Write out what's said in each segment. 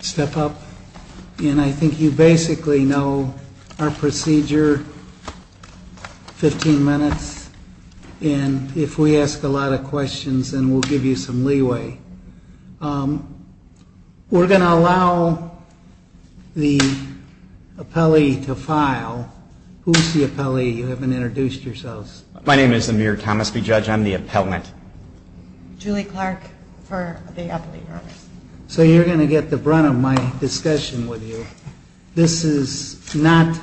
Step up. And I think you basically know our procedure, 15 minutes. And if we ask a lot of questions, then we'll give you some leeway. We're going to allow the appellee to file. Who's the appellee? You haven't introduced yourselves. My name is Amir Thomasby, Judge. I'm the appellant. Julie Clark for the appellee. So you're going to get the brunt of my discussion with you. This is not,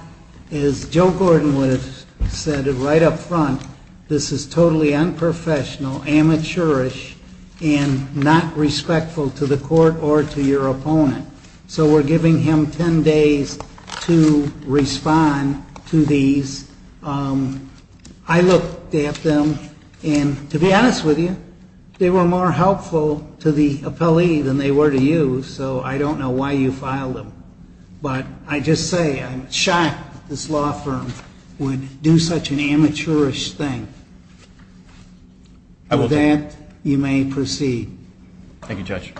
as Joe Gordon would have said it right up front, this is totally unprofessional, amateurish, and not respectful to the court. Or to your opponent. So we're giving him 10 days to respond to these. I looked at them, and to be honest with you, they were more helpful to the appellee than they were to you. So I don't know why you filed them. But I just say I'm shocked this law firm would do such an amateurish thing. With that, you may proceed. Thank you, Judge.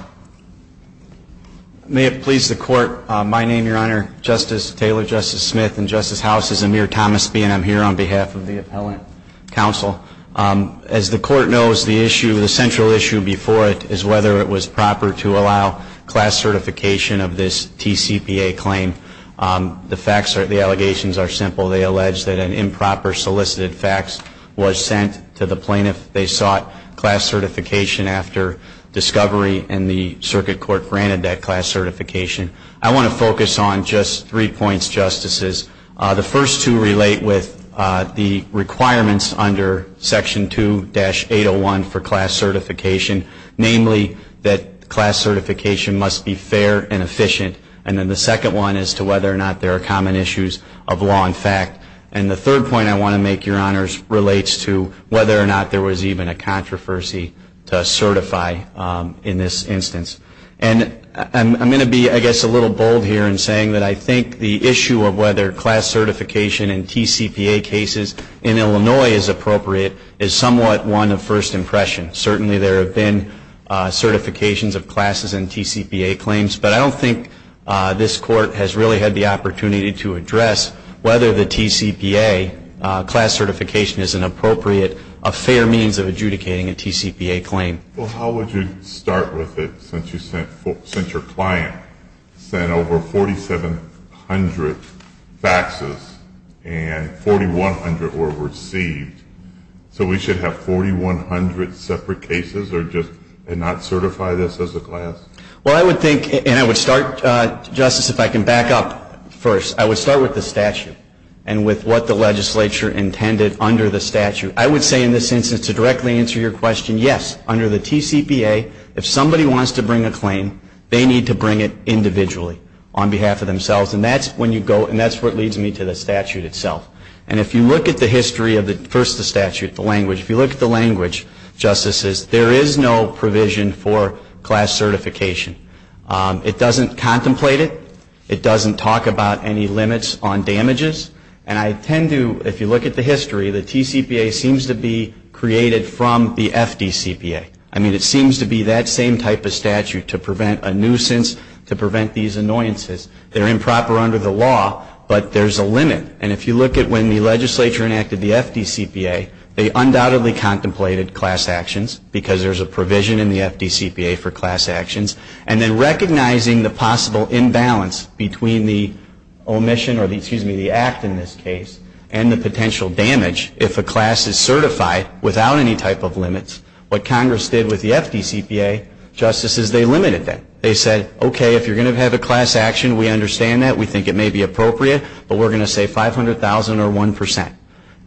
May it please the Court, my name, Your Honor, Justice Taylor, Justice Smith, and Justice House, this is Amir Thomasby, and I'm here on behalf of the appellant counsel. As the Court knows, the issue, the central issue before it is whether it was proper to allow class certification of this TCPA claim. The facts, the allegations are simple. They allege that an improper solicited fax was sent to the plaintiff. They sought class certification after discovery, and the Circuit Court granted that class certification. I want to focus on just three points, Justices. The first two relate with the requirements under Section 2-801 for class certification, namely that class certification must be fair and efficient. And then the second one is to whether or not there are common issues of law and fact. And the third point I want to make, Your Honors, relates to whether or not there was even a controversy to certify in this instance. And I'm going to be, I guess, a little bold here in saying that I think the issue of whether class certification in TCPA cases in Illinois is appropriate is somewhat one of first impression. Certainly there have been certifications of classes in TCPA claims. But I don't think this Court has really had the opportunity to address whether the TCPA class certification is an appropriate, a fair means of adjudicating a TCPA claim. Well, how would you start with it since you sent, since your client sent over 4,700 faxes and 4,100 were received? So we should have 4,100 separate cases or just, and not certify this as a class? Well, I would think, and I would start, Justice, if I can back up first. I would start with the statute and with what the legislature intended under the statute. I would say in this instance to directly answer your question, yes, under the TCPA, if somebody wants to bring a claim, they need to bring it individually on behalf of themselves. And that's when you go, and that's what leads me to the statute itself. And if you look at the history of the, first the statute, the language, if you look at the language, Justices, there is no provision for class certification. It doesn't contemplate it. It doesn't talk about any limits on damages. And I tend to, if you look at the history, the TCPA seems to be created from the FDCPA. I mean, it seems to be that same type of statute to prevent a nuisance, to prevent these annoyances. They're improper under the law, but there's a limit. And if you look at when the legislature enacted the FDCPA, they undoubtedly contemplated class actions because there's a provision in the FDCPA for class actions. And then recognizing the possible imbalance between the omission or the, excuse me, the act in this case, and the potential damage if a class is certified without any type of limits, what Congress did with the FDCPA, Justices, they limited that. They said, okay, if you're going to have a class action, we understand that, we think it may be appropriate, but we're going to say 500,000 or 1%.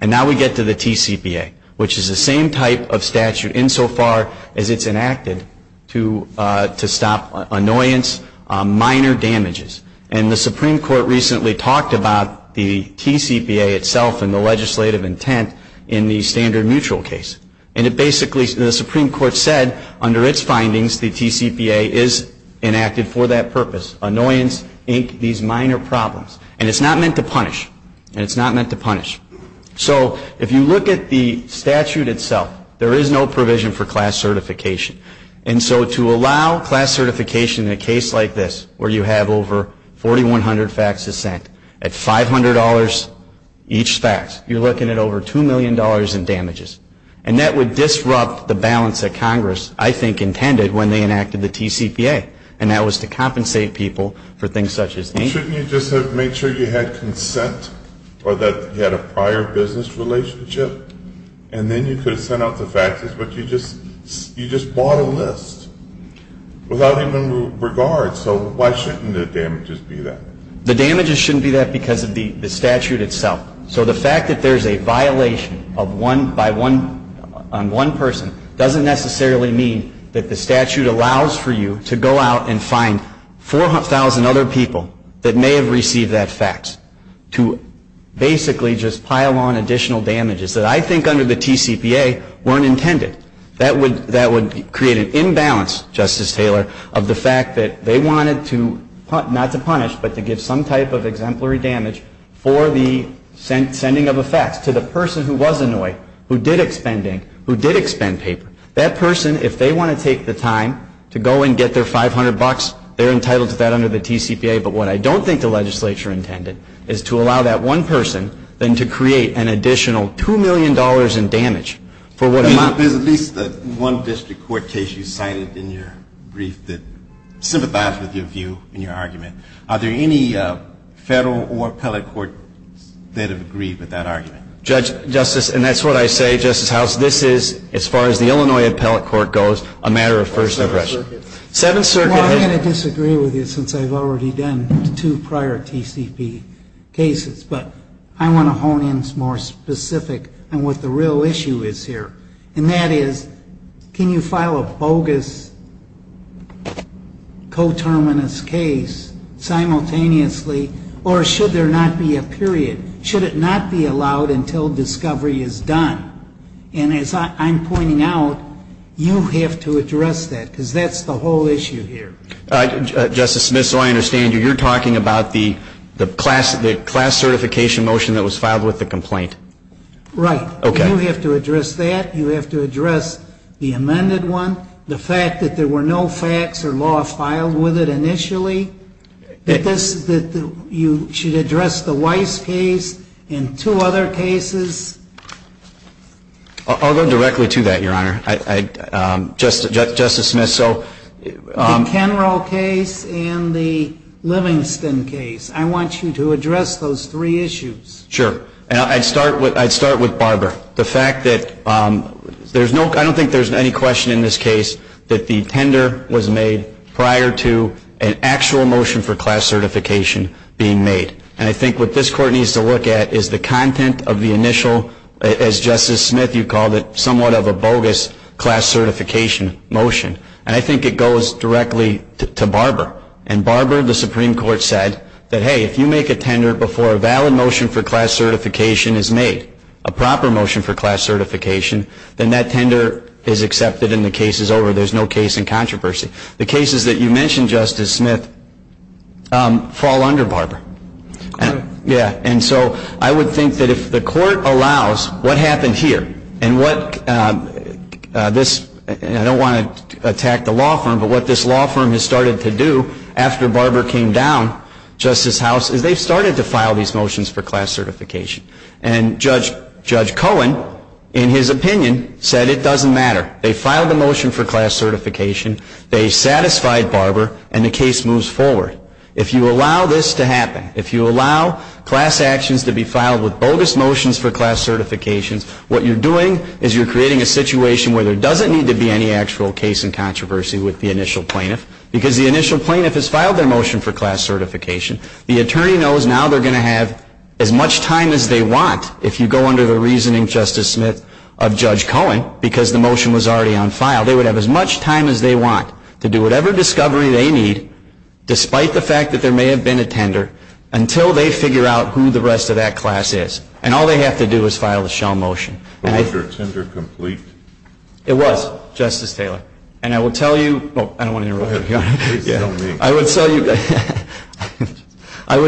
And now we get to the TCPA, which is the same type of statute insofar as it's enacted to stop annoyance, minor damages. And the Supreme Court recently talked about the TCPA itself and the legislative intent in the standard mutual case. And it basically, the Supreme Court said under its findings, the TCPA is enacted for that purpose, annoyance, these minor problems. And it's not meant to punish. And it's not meant to punish. So if you look at the statute itself, there is no provision for class certification. And so to allow class certification in a case like this, where you have over 4,100 facts to send, at $500 each fact, you're looking at over $2 million in damages. And that would disrupt the balance that Congress, I think, intended when they enacted the TCPA. And that was to compensate people for things such as anger. Shouldn't you just have made sure you had consent or that you had a prior business relationship? And then you could have sent out the facts, but you just bought a list without even regard. So why shouldn't the damages be that? The damages shouldn't be that because of the statute itself. So the fact that there's a violation on one person doesn't necessarily mean that the statute allows for you to go out and find 4,000 other people that may have received that fact to basically just pile on additional damages that I think under the TCPA weren't intended. That would create an imbalance, Justice Taylor, of the fact that they wanted to, not to punish, but to give some type of exemplary damage for the sending of a fact to the person who was annoyed, who did expend paper. That person, if they want to take the time to go and get their $500, they're entitled to that under the TCPA. But what I don't think the legislature intended is to allow that one person, then to create an additional $2 million in damage for what amount of damage. At least the one district court case you cited in your brief that sympathized with your view and your argument. Are there any federal or appellate courts that have agreed with that argument? Justice, and that's what I say, Justice House, this is, as far as the Illinois Appellate Court goes, a matter of first impression. Well, I'm going to disagree with you since I've already done two prior TCPA cases, but I want to hone in more specific on what the real issue is here. And that is, I don't think it's a matter of first impression. I think it's a matter of first impression. And that is, can you file a bogus coterminous case simultaneously, or should there not be a period? Should it not be allowed until discovery is done? And as I'm pointing out, you have to address that, because that's the whole issue here. Justice Smith, so I understand you, you're talking about the class certification motion that was filed with the complaint. Right. You have to address that. You have to address the amended one, the fact that there were no facts or law filed with it initially, that you should address the Weiss case and two other cases. I'll go directly to that, Your Honor. Justice Smith, so... The Kenrall case and the Livingston case. I want you to address those three issues. Sure. And I'd start with Barbara. The fact that there's no, I don't think there's any question in this case that the tender was made prior to an actual motion for class certification being made. And I think what this Court needs to look at is the content of the initial, as Justice Smith, you called it, somewhat of a bogus class certification motion. And I think it goes directly to Barbara. And Barbara, the Supreme Court said that, hey, if you make a tender before a valid motion for class certification is made, a proper motion for class certification, then that tender is accepted and the case is over. There's no case in controversy. The cases that you mentioned, Justice Smith, fall under Barbara. Yeah. And so I would think that if the Court allows what happened here, and what this, I don't want to attack the law firm, but what this law firm has started to do, is allow the Supreme Court to make a tender before a valid motion for class certification is made. And what they've done, after Barbara came down, Justice House, is they've started to file these motions for class certification. And Judge Cohen, in his opinion, said it doesn't matter. They filed the motion for class certification, they satisfied Barbara, and the case moves forward. If you allow this to happen, if you allow class actions to be filed with bogus motions for class certifications, what you're doing is you're creating a situation where there doesn't need to be any actual case in controversy with the initial plaintiff. Because the initial plaintiff has filed their motion for class certification, the attorney knows now they're going to have as much time as they want, if you go under the reasoning, Justice Smith, of Judge Cohen, because the motion was already on file. They would have as much time as they want to do whatever discovery they need, despite the fact that there may have been a tender, until they figure out who the rest of that class is. And all they have to do is file the shell motion. I would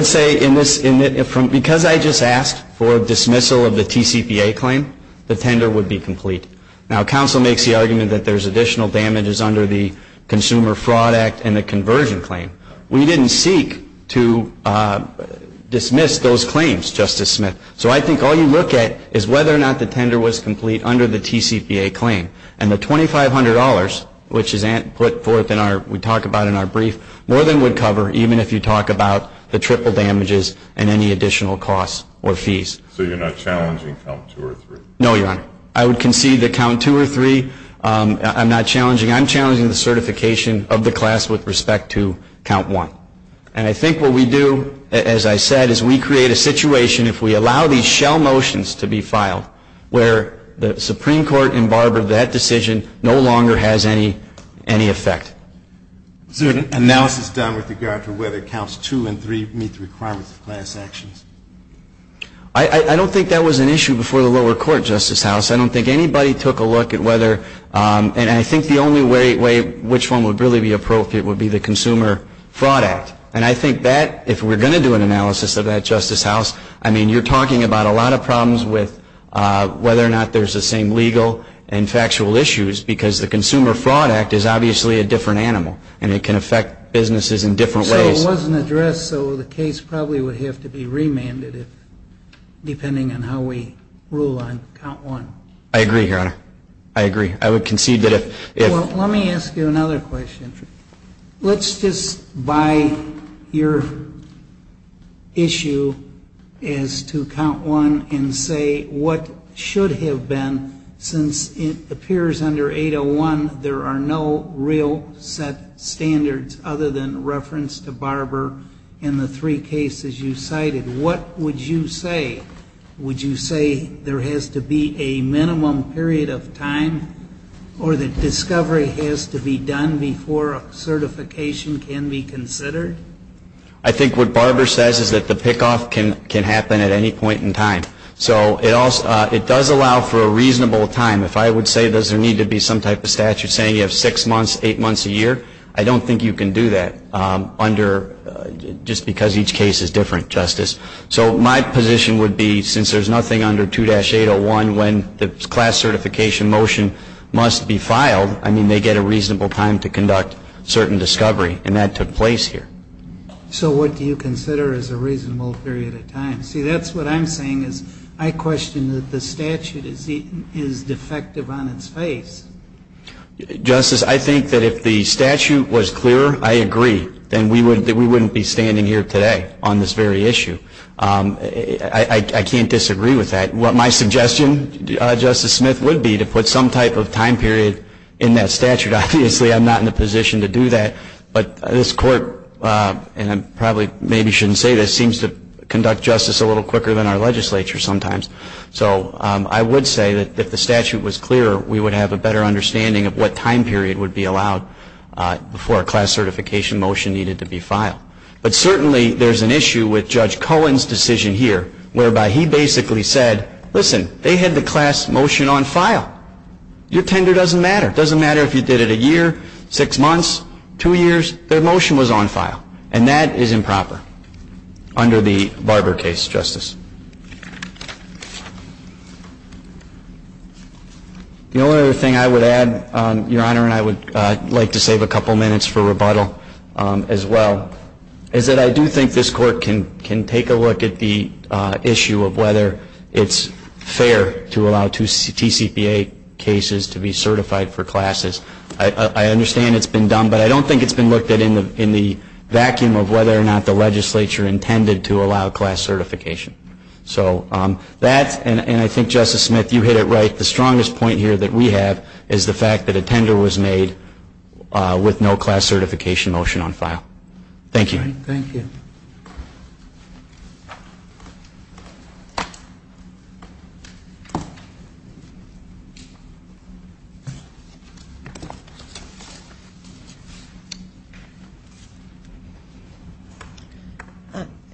say, because I just asked for dismissal of the TCPA claim, the tender would be complete. Now, counsel makes the argument that there's additional damages under the Consumer Fraud Act and the conversion claim. We didn't seek to dismiss those claims, Justice Smith. So I think all you look at is whether or not the tender was complete under the TCPA claim. And the $2,500, which is put forth in our, we talk about in our brief, more than would cover, even if you talk about the triple damages and any additional costs or fees. So you're not challenging count two or three? No, Your Honor. I would concede that count two or three, I'm not challenging. I'm challenging the certification of the class with respect to count one. And I think what we do, as I said, is we create a situation, if we allow these shell motions to be filed, where the Supreme Court embargoed that decision, no longer has any effect. Is there an analysis done with regard to whether counts two and three meet the requirements of class actions? I don't think that was an issue before the lower court, Justice House. I don't think anybody took a look at whether, and I think the only way which one would really be appropriate would be the Consumer Fraud Act. And I think that, if we're going to do an analysis of that, Justice House, I mean, you're talking about a lot of problems with whether or not there's the same legal and factual issues. Because the Consumer Fraud Act is obviously a different animal, and it can affect businesses in different ways. So it wasn't addressed, so the case probably would have to be remanded, depending on how we rule on count one. I agree, Your Honor. I agree. I would concede that if... Well, let me ask you another question. Let's just buy your issue as to count one and say what should have been, since it appears under 801, there are no real set standards other than reference to Barber in the three cases you cited. What would you say? Would you say there has to be a minimum period of time, or that discovery has to be done before a certification can be considered? I think what Barber says is that the pickoff can happen at any point in time. So it does allow for a reasonable time. If I would say, does there need to be some type of statute saying you have six months, eight months, a year, I don't think you can do that, just because each case is different, Justice. So my position would be, since there's nothing under 2-801 when the class certification motion must be filed, I mean, they get a reasonable time to conduct certain discovery, and that took place here. So what do you consider is a reasonable period of time? See, that's what I'm saying, is I question that the statute is defective on its face. Justice, I think that if the statute was clearer, I agree, then we wouldn't be standing here today on this very issue. I can't disagree with that. What my suggestion, Justice Smith, would be to put some type of time period in that statute. Obviously, I'm not in a position to do that, but this Court, and I probably maybe shouldn't say this, seems to conduct justice a little quicker than our legislature sometimes. So I would say that if the statute was clearer, we would have a better understanding of what time period would be allowed before a class certification motion needed to be filed. But certainly, there's an issue with Judge Cohen's decision here, whereby he basically said, listen, they had the class motion on file. Your tender doesn't matter. It doesn't matter if you did it a year, six months, two years. Their motion was on file. And that is improper under the Barber case, Justice. The only other thing I would add, Your Honor, and I would like to save a couple minutes for rebuttal as well, is that I think it's important to understand that the issue of whether it's fair to allow two TCPA cases to be certified for classes. I understand it's been done, but I don't think it's been looked at in the vacuum of whether or not the legislature intended to allow class certification. So that, and I think, Justice Smith, you hit it right, the strongest point here that we have is the fact that a tender was made with no class certification motion on file. Thank you.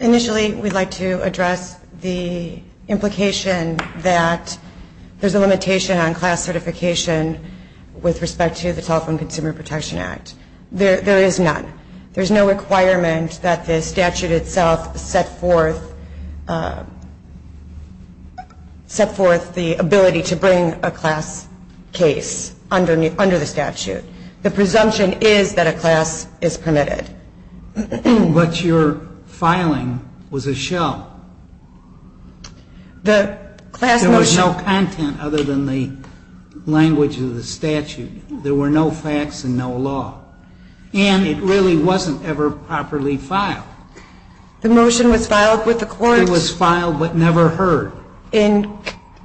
Initially, we'd like to address the implication that there's a limitation on class certification with respect to the Telephone Consumer Protection Act. There is none. There's no requirement that the statute itself set forth the ability to bring a class case under the statute. The presumption is that a class is permitted. But your filing was a shell. There was no content other than the language of the statute. There were no facts and no law. And it really wasn't ever properly filed. The motion was filed with the court. It was filed but never heard. In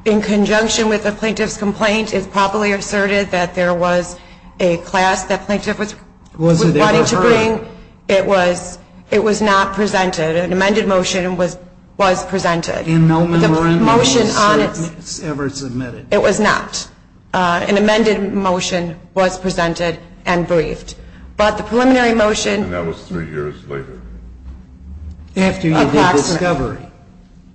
conjunction with the plaintiff's complaint, it's properly asserted that there was a class that plaintiff was wanting to bring. It was not presented. An amended motion was presented. And no memorandum of assertion was ever submitted. It was not. An amended motion was presented and briefed. And that was three years later, after you made the discovery.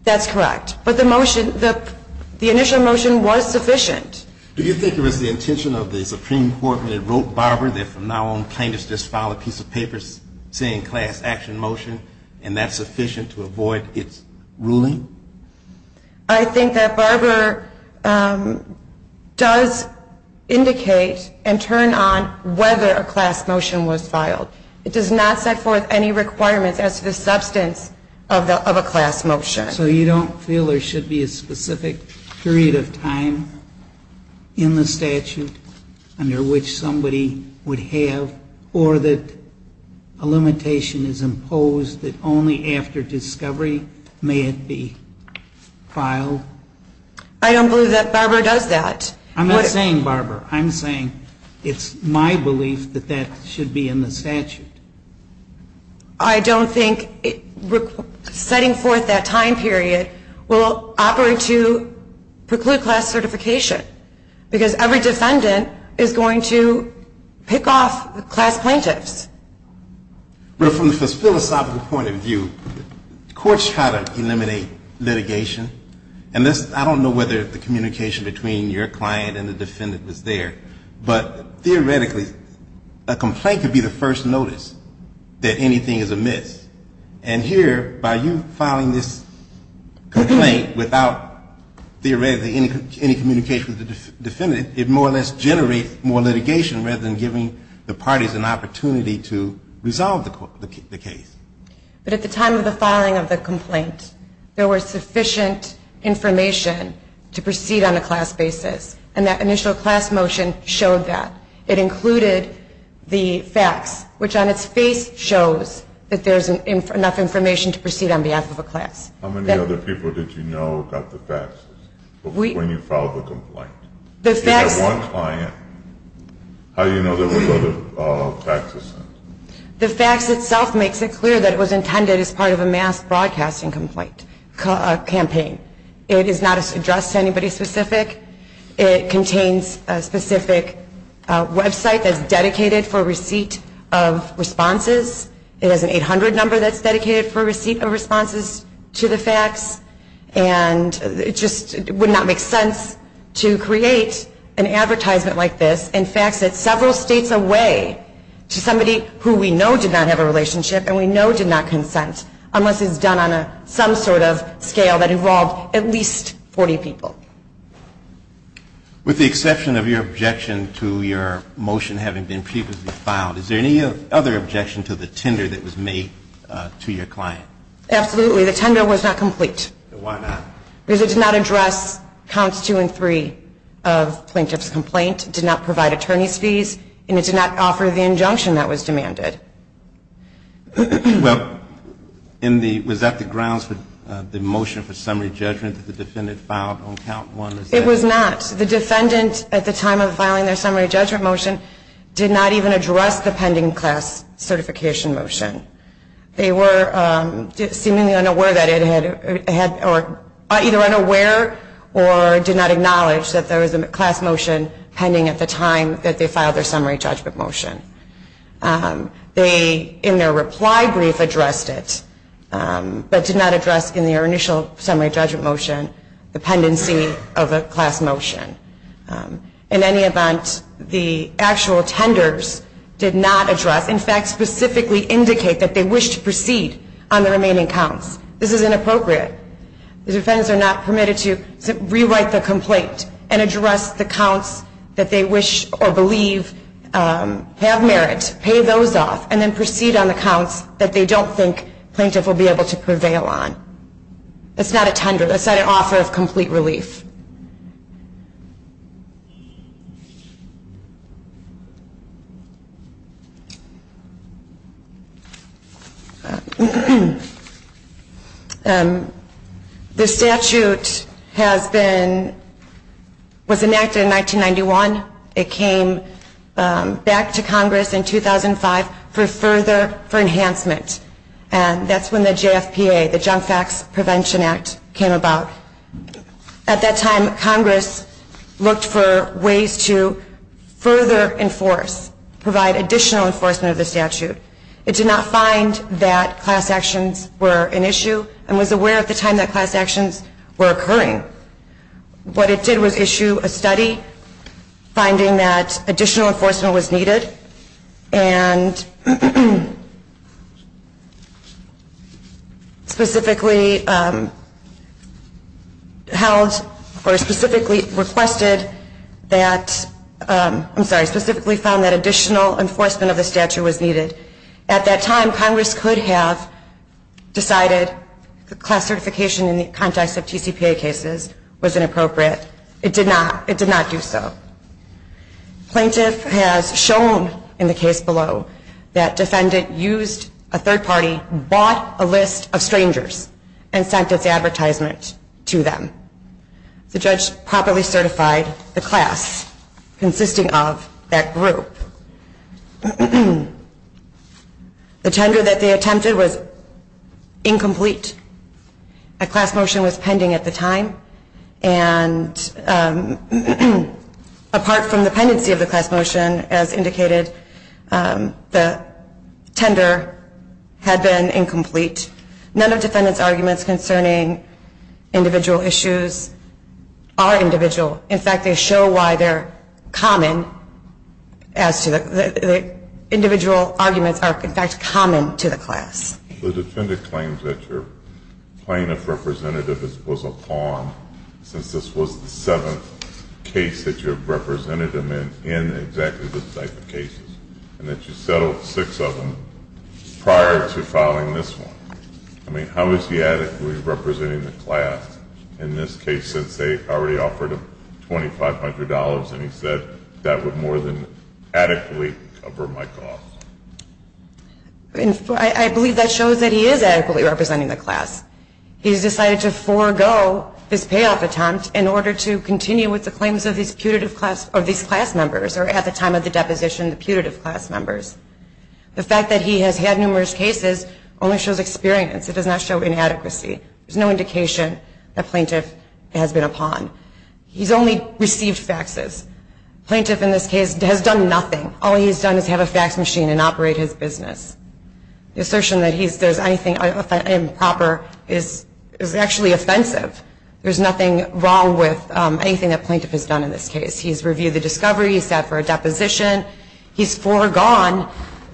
That's correct. But the initial motion was sufficient. Do you think it was the intention of the Supreme Court when it wrote Barber that from now on, plaintiffs just file a piece of paper saying class action motion, and that's sufficient to avoid its ruling? I think that Barber does indicate and turn on whether a class motion was filed. It does not set forth any requirements as to the substance of a class motion. So you don't feel there should be a specific period of time in the statute under which somebody would have, or that a limitation is imposed that only after discovery, may it be? I don't believe that Barber does that. I'm not saying Barber. I'm saying it's my belief that that should be in the statute. I don't think setting forth that time period will operate to preclude class certification. Because every defendant is going to pick off class plaintiffs. Well, from the philosophical point of view, courts try to eliminate litigation. And I don't know whether the communication between your client and the defendant was there. But theoretically, a complaint could be the first notice that anything is amiss. And here, by you filing this complaint without, theoretically, any communication with the defendant, it more or less generates more litigation rather than giving the parties an opportunity to resolve the case. But at the time of the filing of the complaint, there was sufficient information to proceed on a class basis. And that initial class motion showed that. It included the facts, which on its face shows that there's enough information to proceed on behalf of a class. How many other people did you know about the facts when you filed the complaint? If you had one client, how do you know there were other facts? The facts itself makes it clear that it was intended as part of a mass broadcasting campaign. It is not addressed to anybody specific. It contains a specific website that's dedicated for receipt of responses. It has an 800 number that's dedicated for receipt of responses to the facts. And it just would not make sense to create an advertisement like this and fax it several states away to somebody who we know did not have a relationship and we know did not consent unless it's done on some sort of scale that involved at least 40 people. With the exception of your objection to your motion having been previously filed, is there any other objection to the tender that was made to your client? Absolutely. The tender was not complete. Why not? Because it did not address counts two and three of plaintiff's complaint, did not provide attorney's fees, and it did not offer the injunction that was demanded. Well, was that the grounds for the motion for summary judgment that the defendant filed on count one? It was not. The defendant at the time of filing their summary judgment motion did not even address the pending class certification motion. They were seemingly unaware that it had or either unaware or did not acknowledge that there was a class motion pending at the time that they filed their summary judgment motion. They, in their reply brief, addressed it, but did not address in their initial summary judgment motion the pendency of a class motion. In any event, the actual tenders did not address, in fact, specifically indicate that they wish to proceed on the remaining counts. This is inappropriate. The defendants are not permitted to rewrite the complaint and address the counts that they wish or believe have merit, pay those off, and then proceed on the counts that they don't think plaintiff will be able to prevail on. That's not a tender. That's not an offer of complete relief. The statute was enacted in 1991. It came back to Congress in 2005 for further enhancement, and that's when the JFPA, the Junk Facts Prevention Act, came about. At that time, Congress looked for ways to further enforce, provide additional enforcement of the statute. It did not find that class actions were an issue and was aware at the time that class actions were occurring. What it did was issue a study finding that additional enforcement was needed and specifically held, or specifically requested that, specifically found that additional enforcement of the statute was needed. At that time, Congress could have decided class certification in the context of TCPA cases was inappropriate. It did not do so. Plaintiff has shown in the case below that defendant used a third party, bought a list of strangers, and sent its advertisement to them. The judge properly certified the class consisting of that group. The tender that they attempted was incomplete. A class motion was pending at the time, and apart from the pendency of the class motion, as indicated, the tender had been incomplete. None of defendant's arguments concerning individual issues are individual. In fact, they show why they're common. Individual arguments are, in fact, common to the class. The defendant claims that your plaintiff representative was a pawn, since this was the seventh case that you have represented him in in exactly this type of cases, and that you settled six of them prior to filing this one. I mean, how is he adequately representing the class in this case since they already offered him $2,500 and he said that would more than adequately cover my costs? I believe that shows that he is adequately representing the class. He's decided to forego this payoff attempt in order to continue with the claims of these class members, or at the time of the deposition, the putative class members. The fact that he has had numerous cases only shows experience. It does not show inadequacy. There's no indication that plaintiff has been a pawn. He's only received faxes. Plaintiff in this case has done nothing. All he's done is have a fax machine and operate his business. The assertion that there's anything improper is actually offensive. There's nothing wrong with anything that plaintiff has done in this case. He's reviewed the discovery. He's sat for a deposition. He's foregone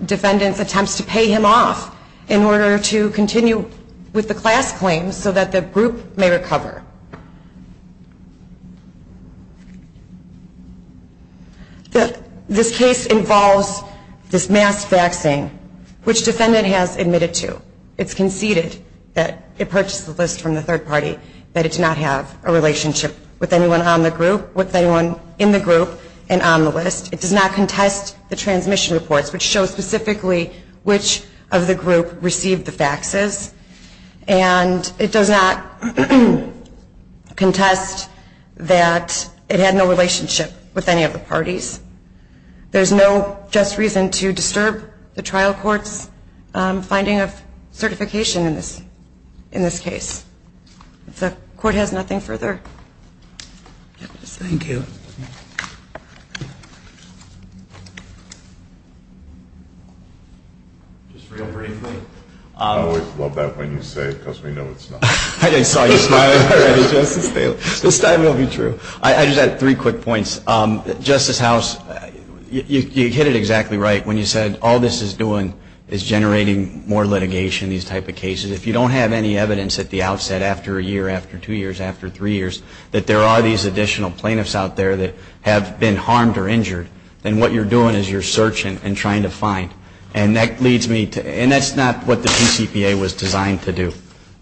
defendant's attempts to pay him off in order to continue with the class claims so that the group may recover. This case involves this mass faxing, which defendant has admitted to. It's conceded that it purchased the list from the third party, that it did not have a relationship with anyone on the group, with anyone in the group and on the list. It does not contest the transmission reports, which show specifically which of the group received the faxes. And it does not contest that it had no relationship with any of the parties. There's no just reason to disturb the trial court's finding of certification in this case. The court has nothing further. Thank you. Just real briefly. I always love that when you say it, because we know it's not. I saw you smiling. This time it will be true. I just had three quick points. Justice House, you hit it exactly right when you said all this is doing is generating more litigation, these type of cases. If you don't have any evidence at the outset, after a year, after two years, after three years, that there are these additional plaintiffs out there that have been harmed or injured, then what you're doing is you're searching and trying to find. And that's not what the PCPA was designed to do.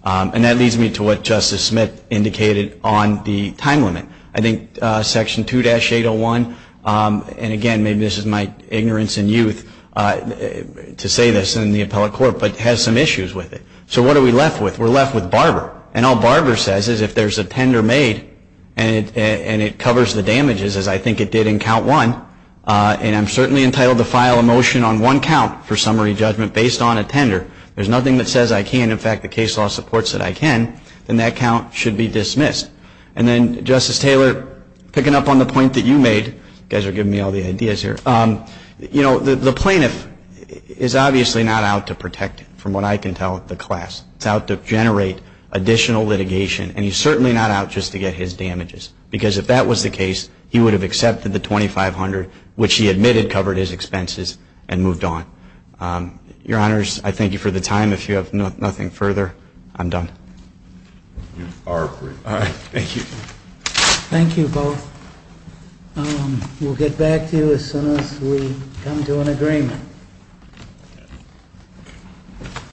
And that leads me to what Justice Smith indicated on the time limit. I think Section 2-801, and again, maybe this is my ignorance and youth to say this in the appellate court, but has some issues with it. So what are we left with? We're left with Barber. And all Barber says is if there's a tender made and it covers the damages, as I think it did in Count 1, and I'm certainly entitled to file a motion on one count for summary judgment based on a tender, there's nothing that says I can't. In fact, the case law supports that I can, and that count should be dismissed. And then, Justice Taylor, picking up on the point that you made, you guys are giving me all the ideas here. You know, the plaintiff is obviously not out to protect from what I can tell the class. It's out to generate additional litigation, and he's certainly not out just to get his damages. Because if that was the case, he would have accepted the $2,500, which he admitted covered his expenses and moved on. Your Honors, I thank you for the time. If you have nothing further, I'm done. You are free. Thank you both. We'll get back to you as soon as we come to an agreement.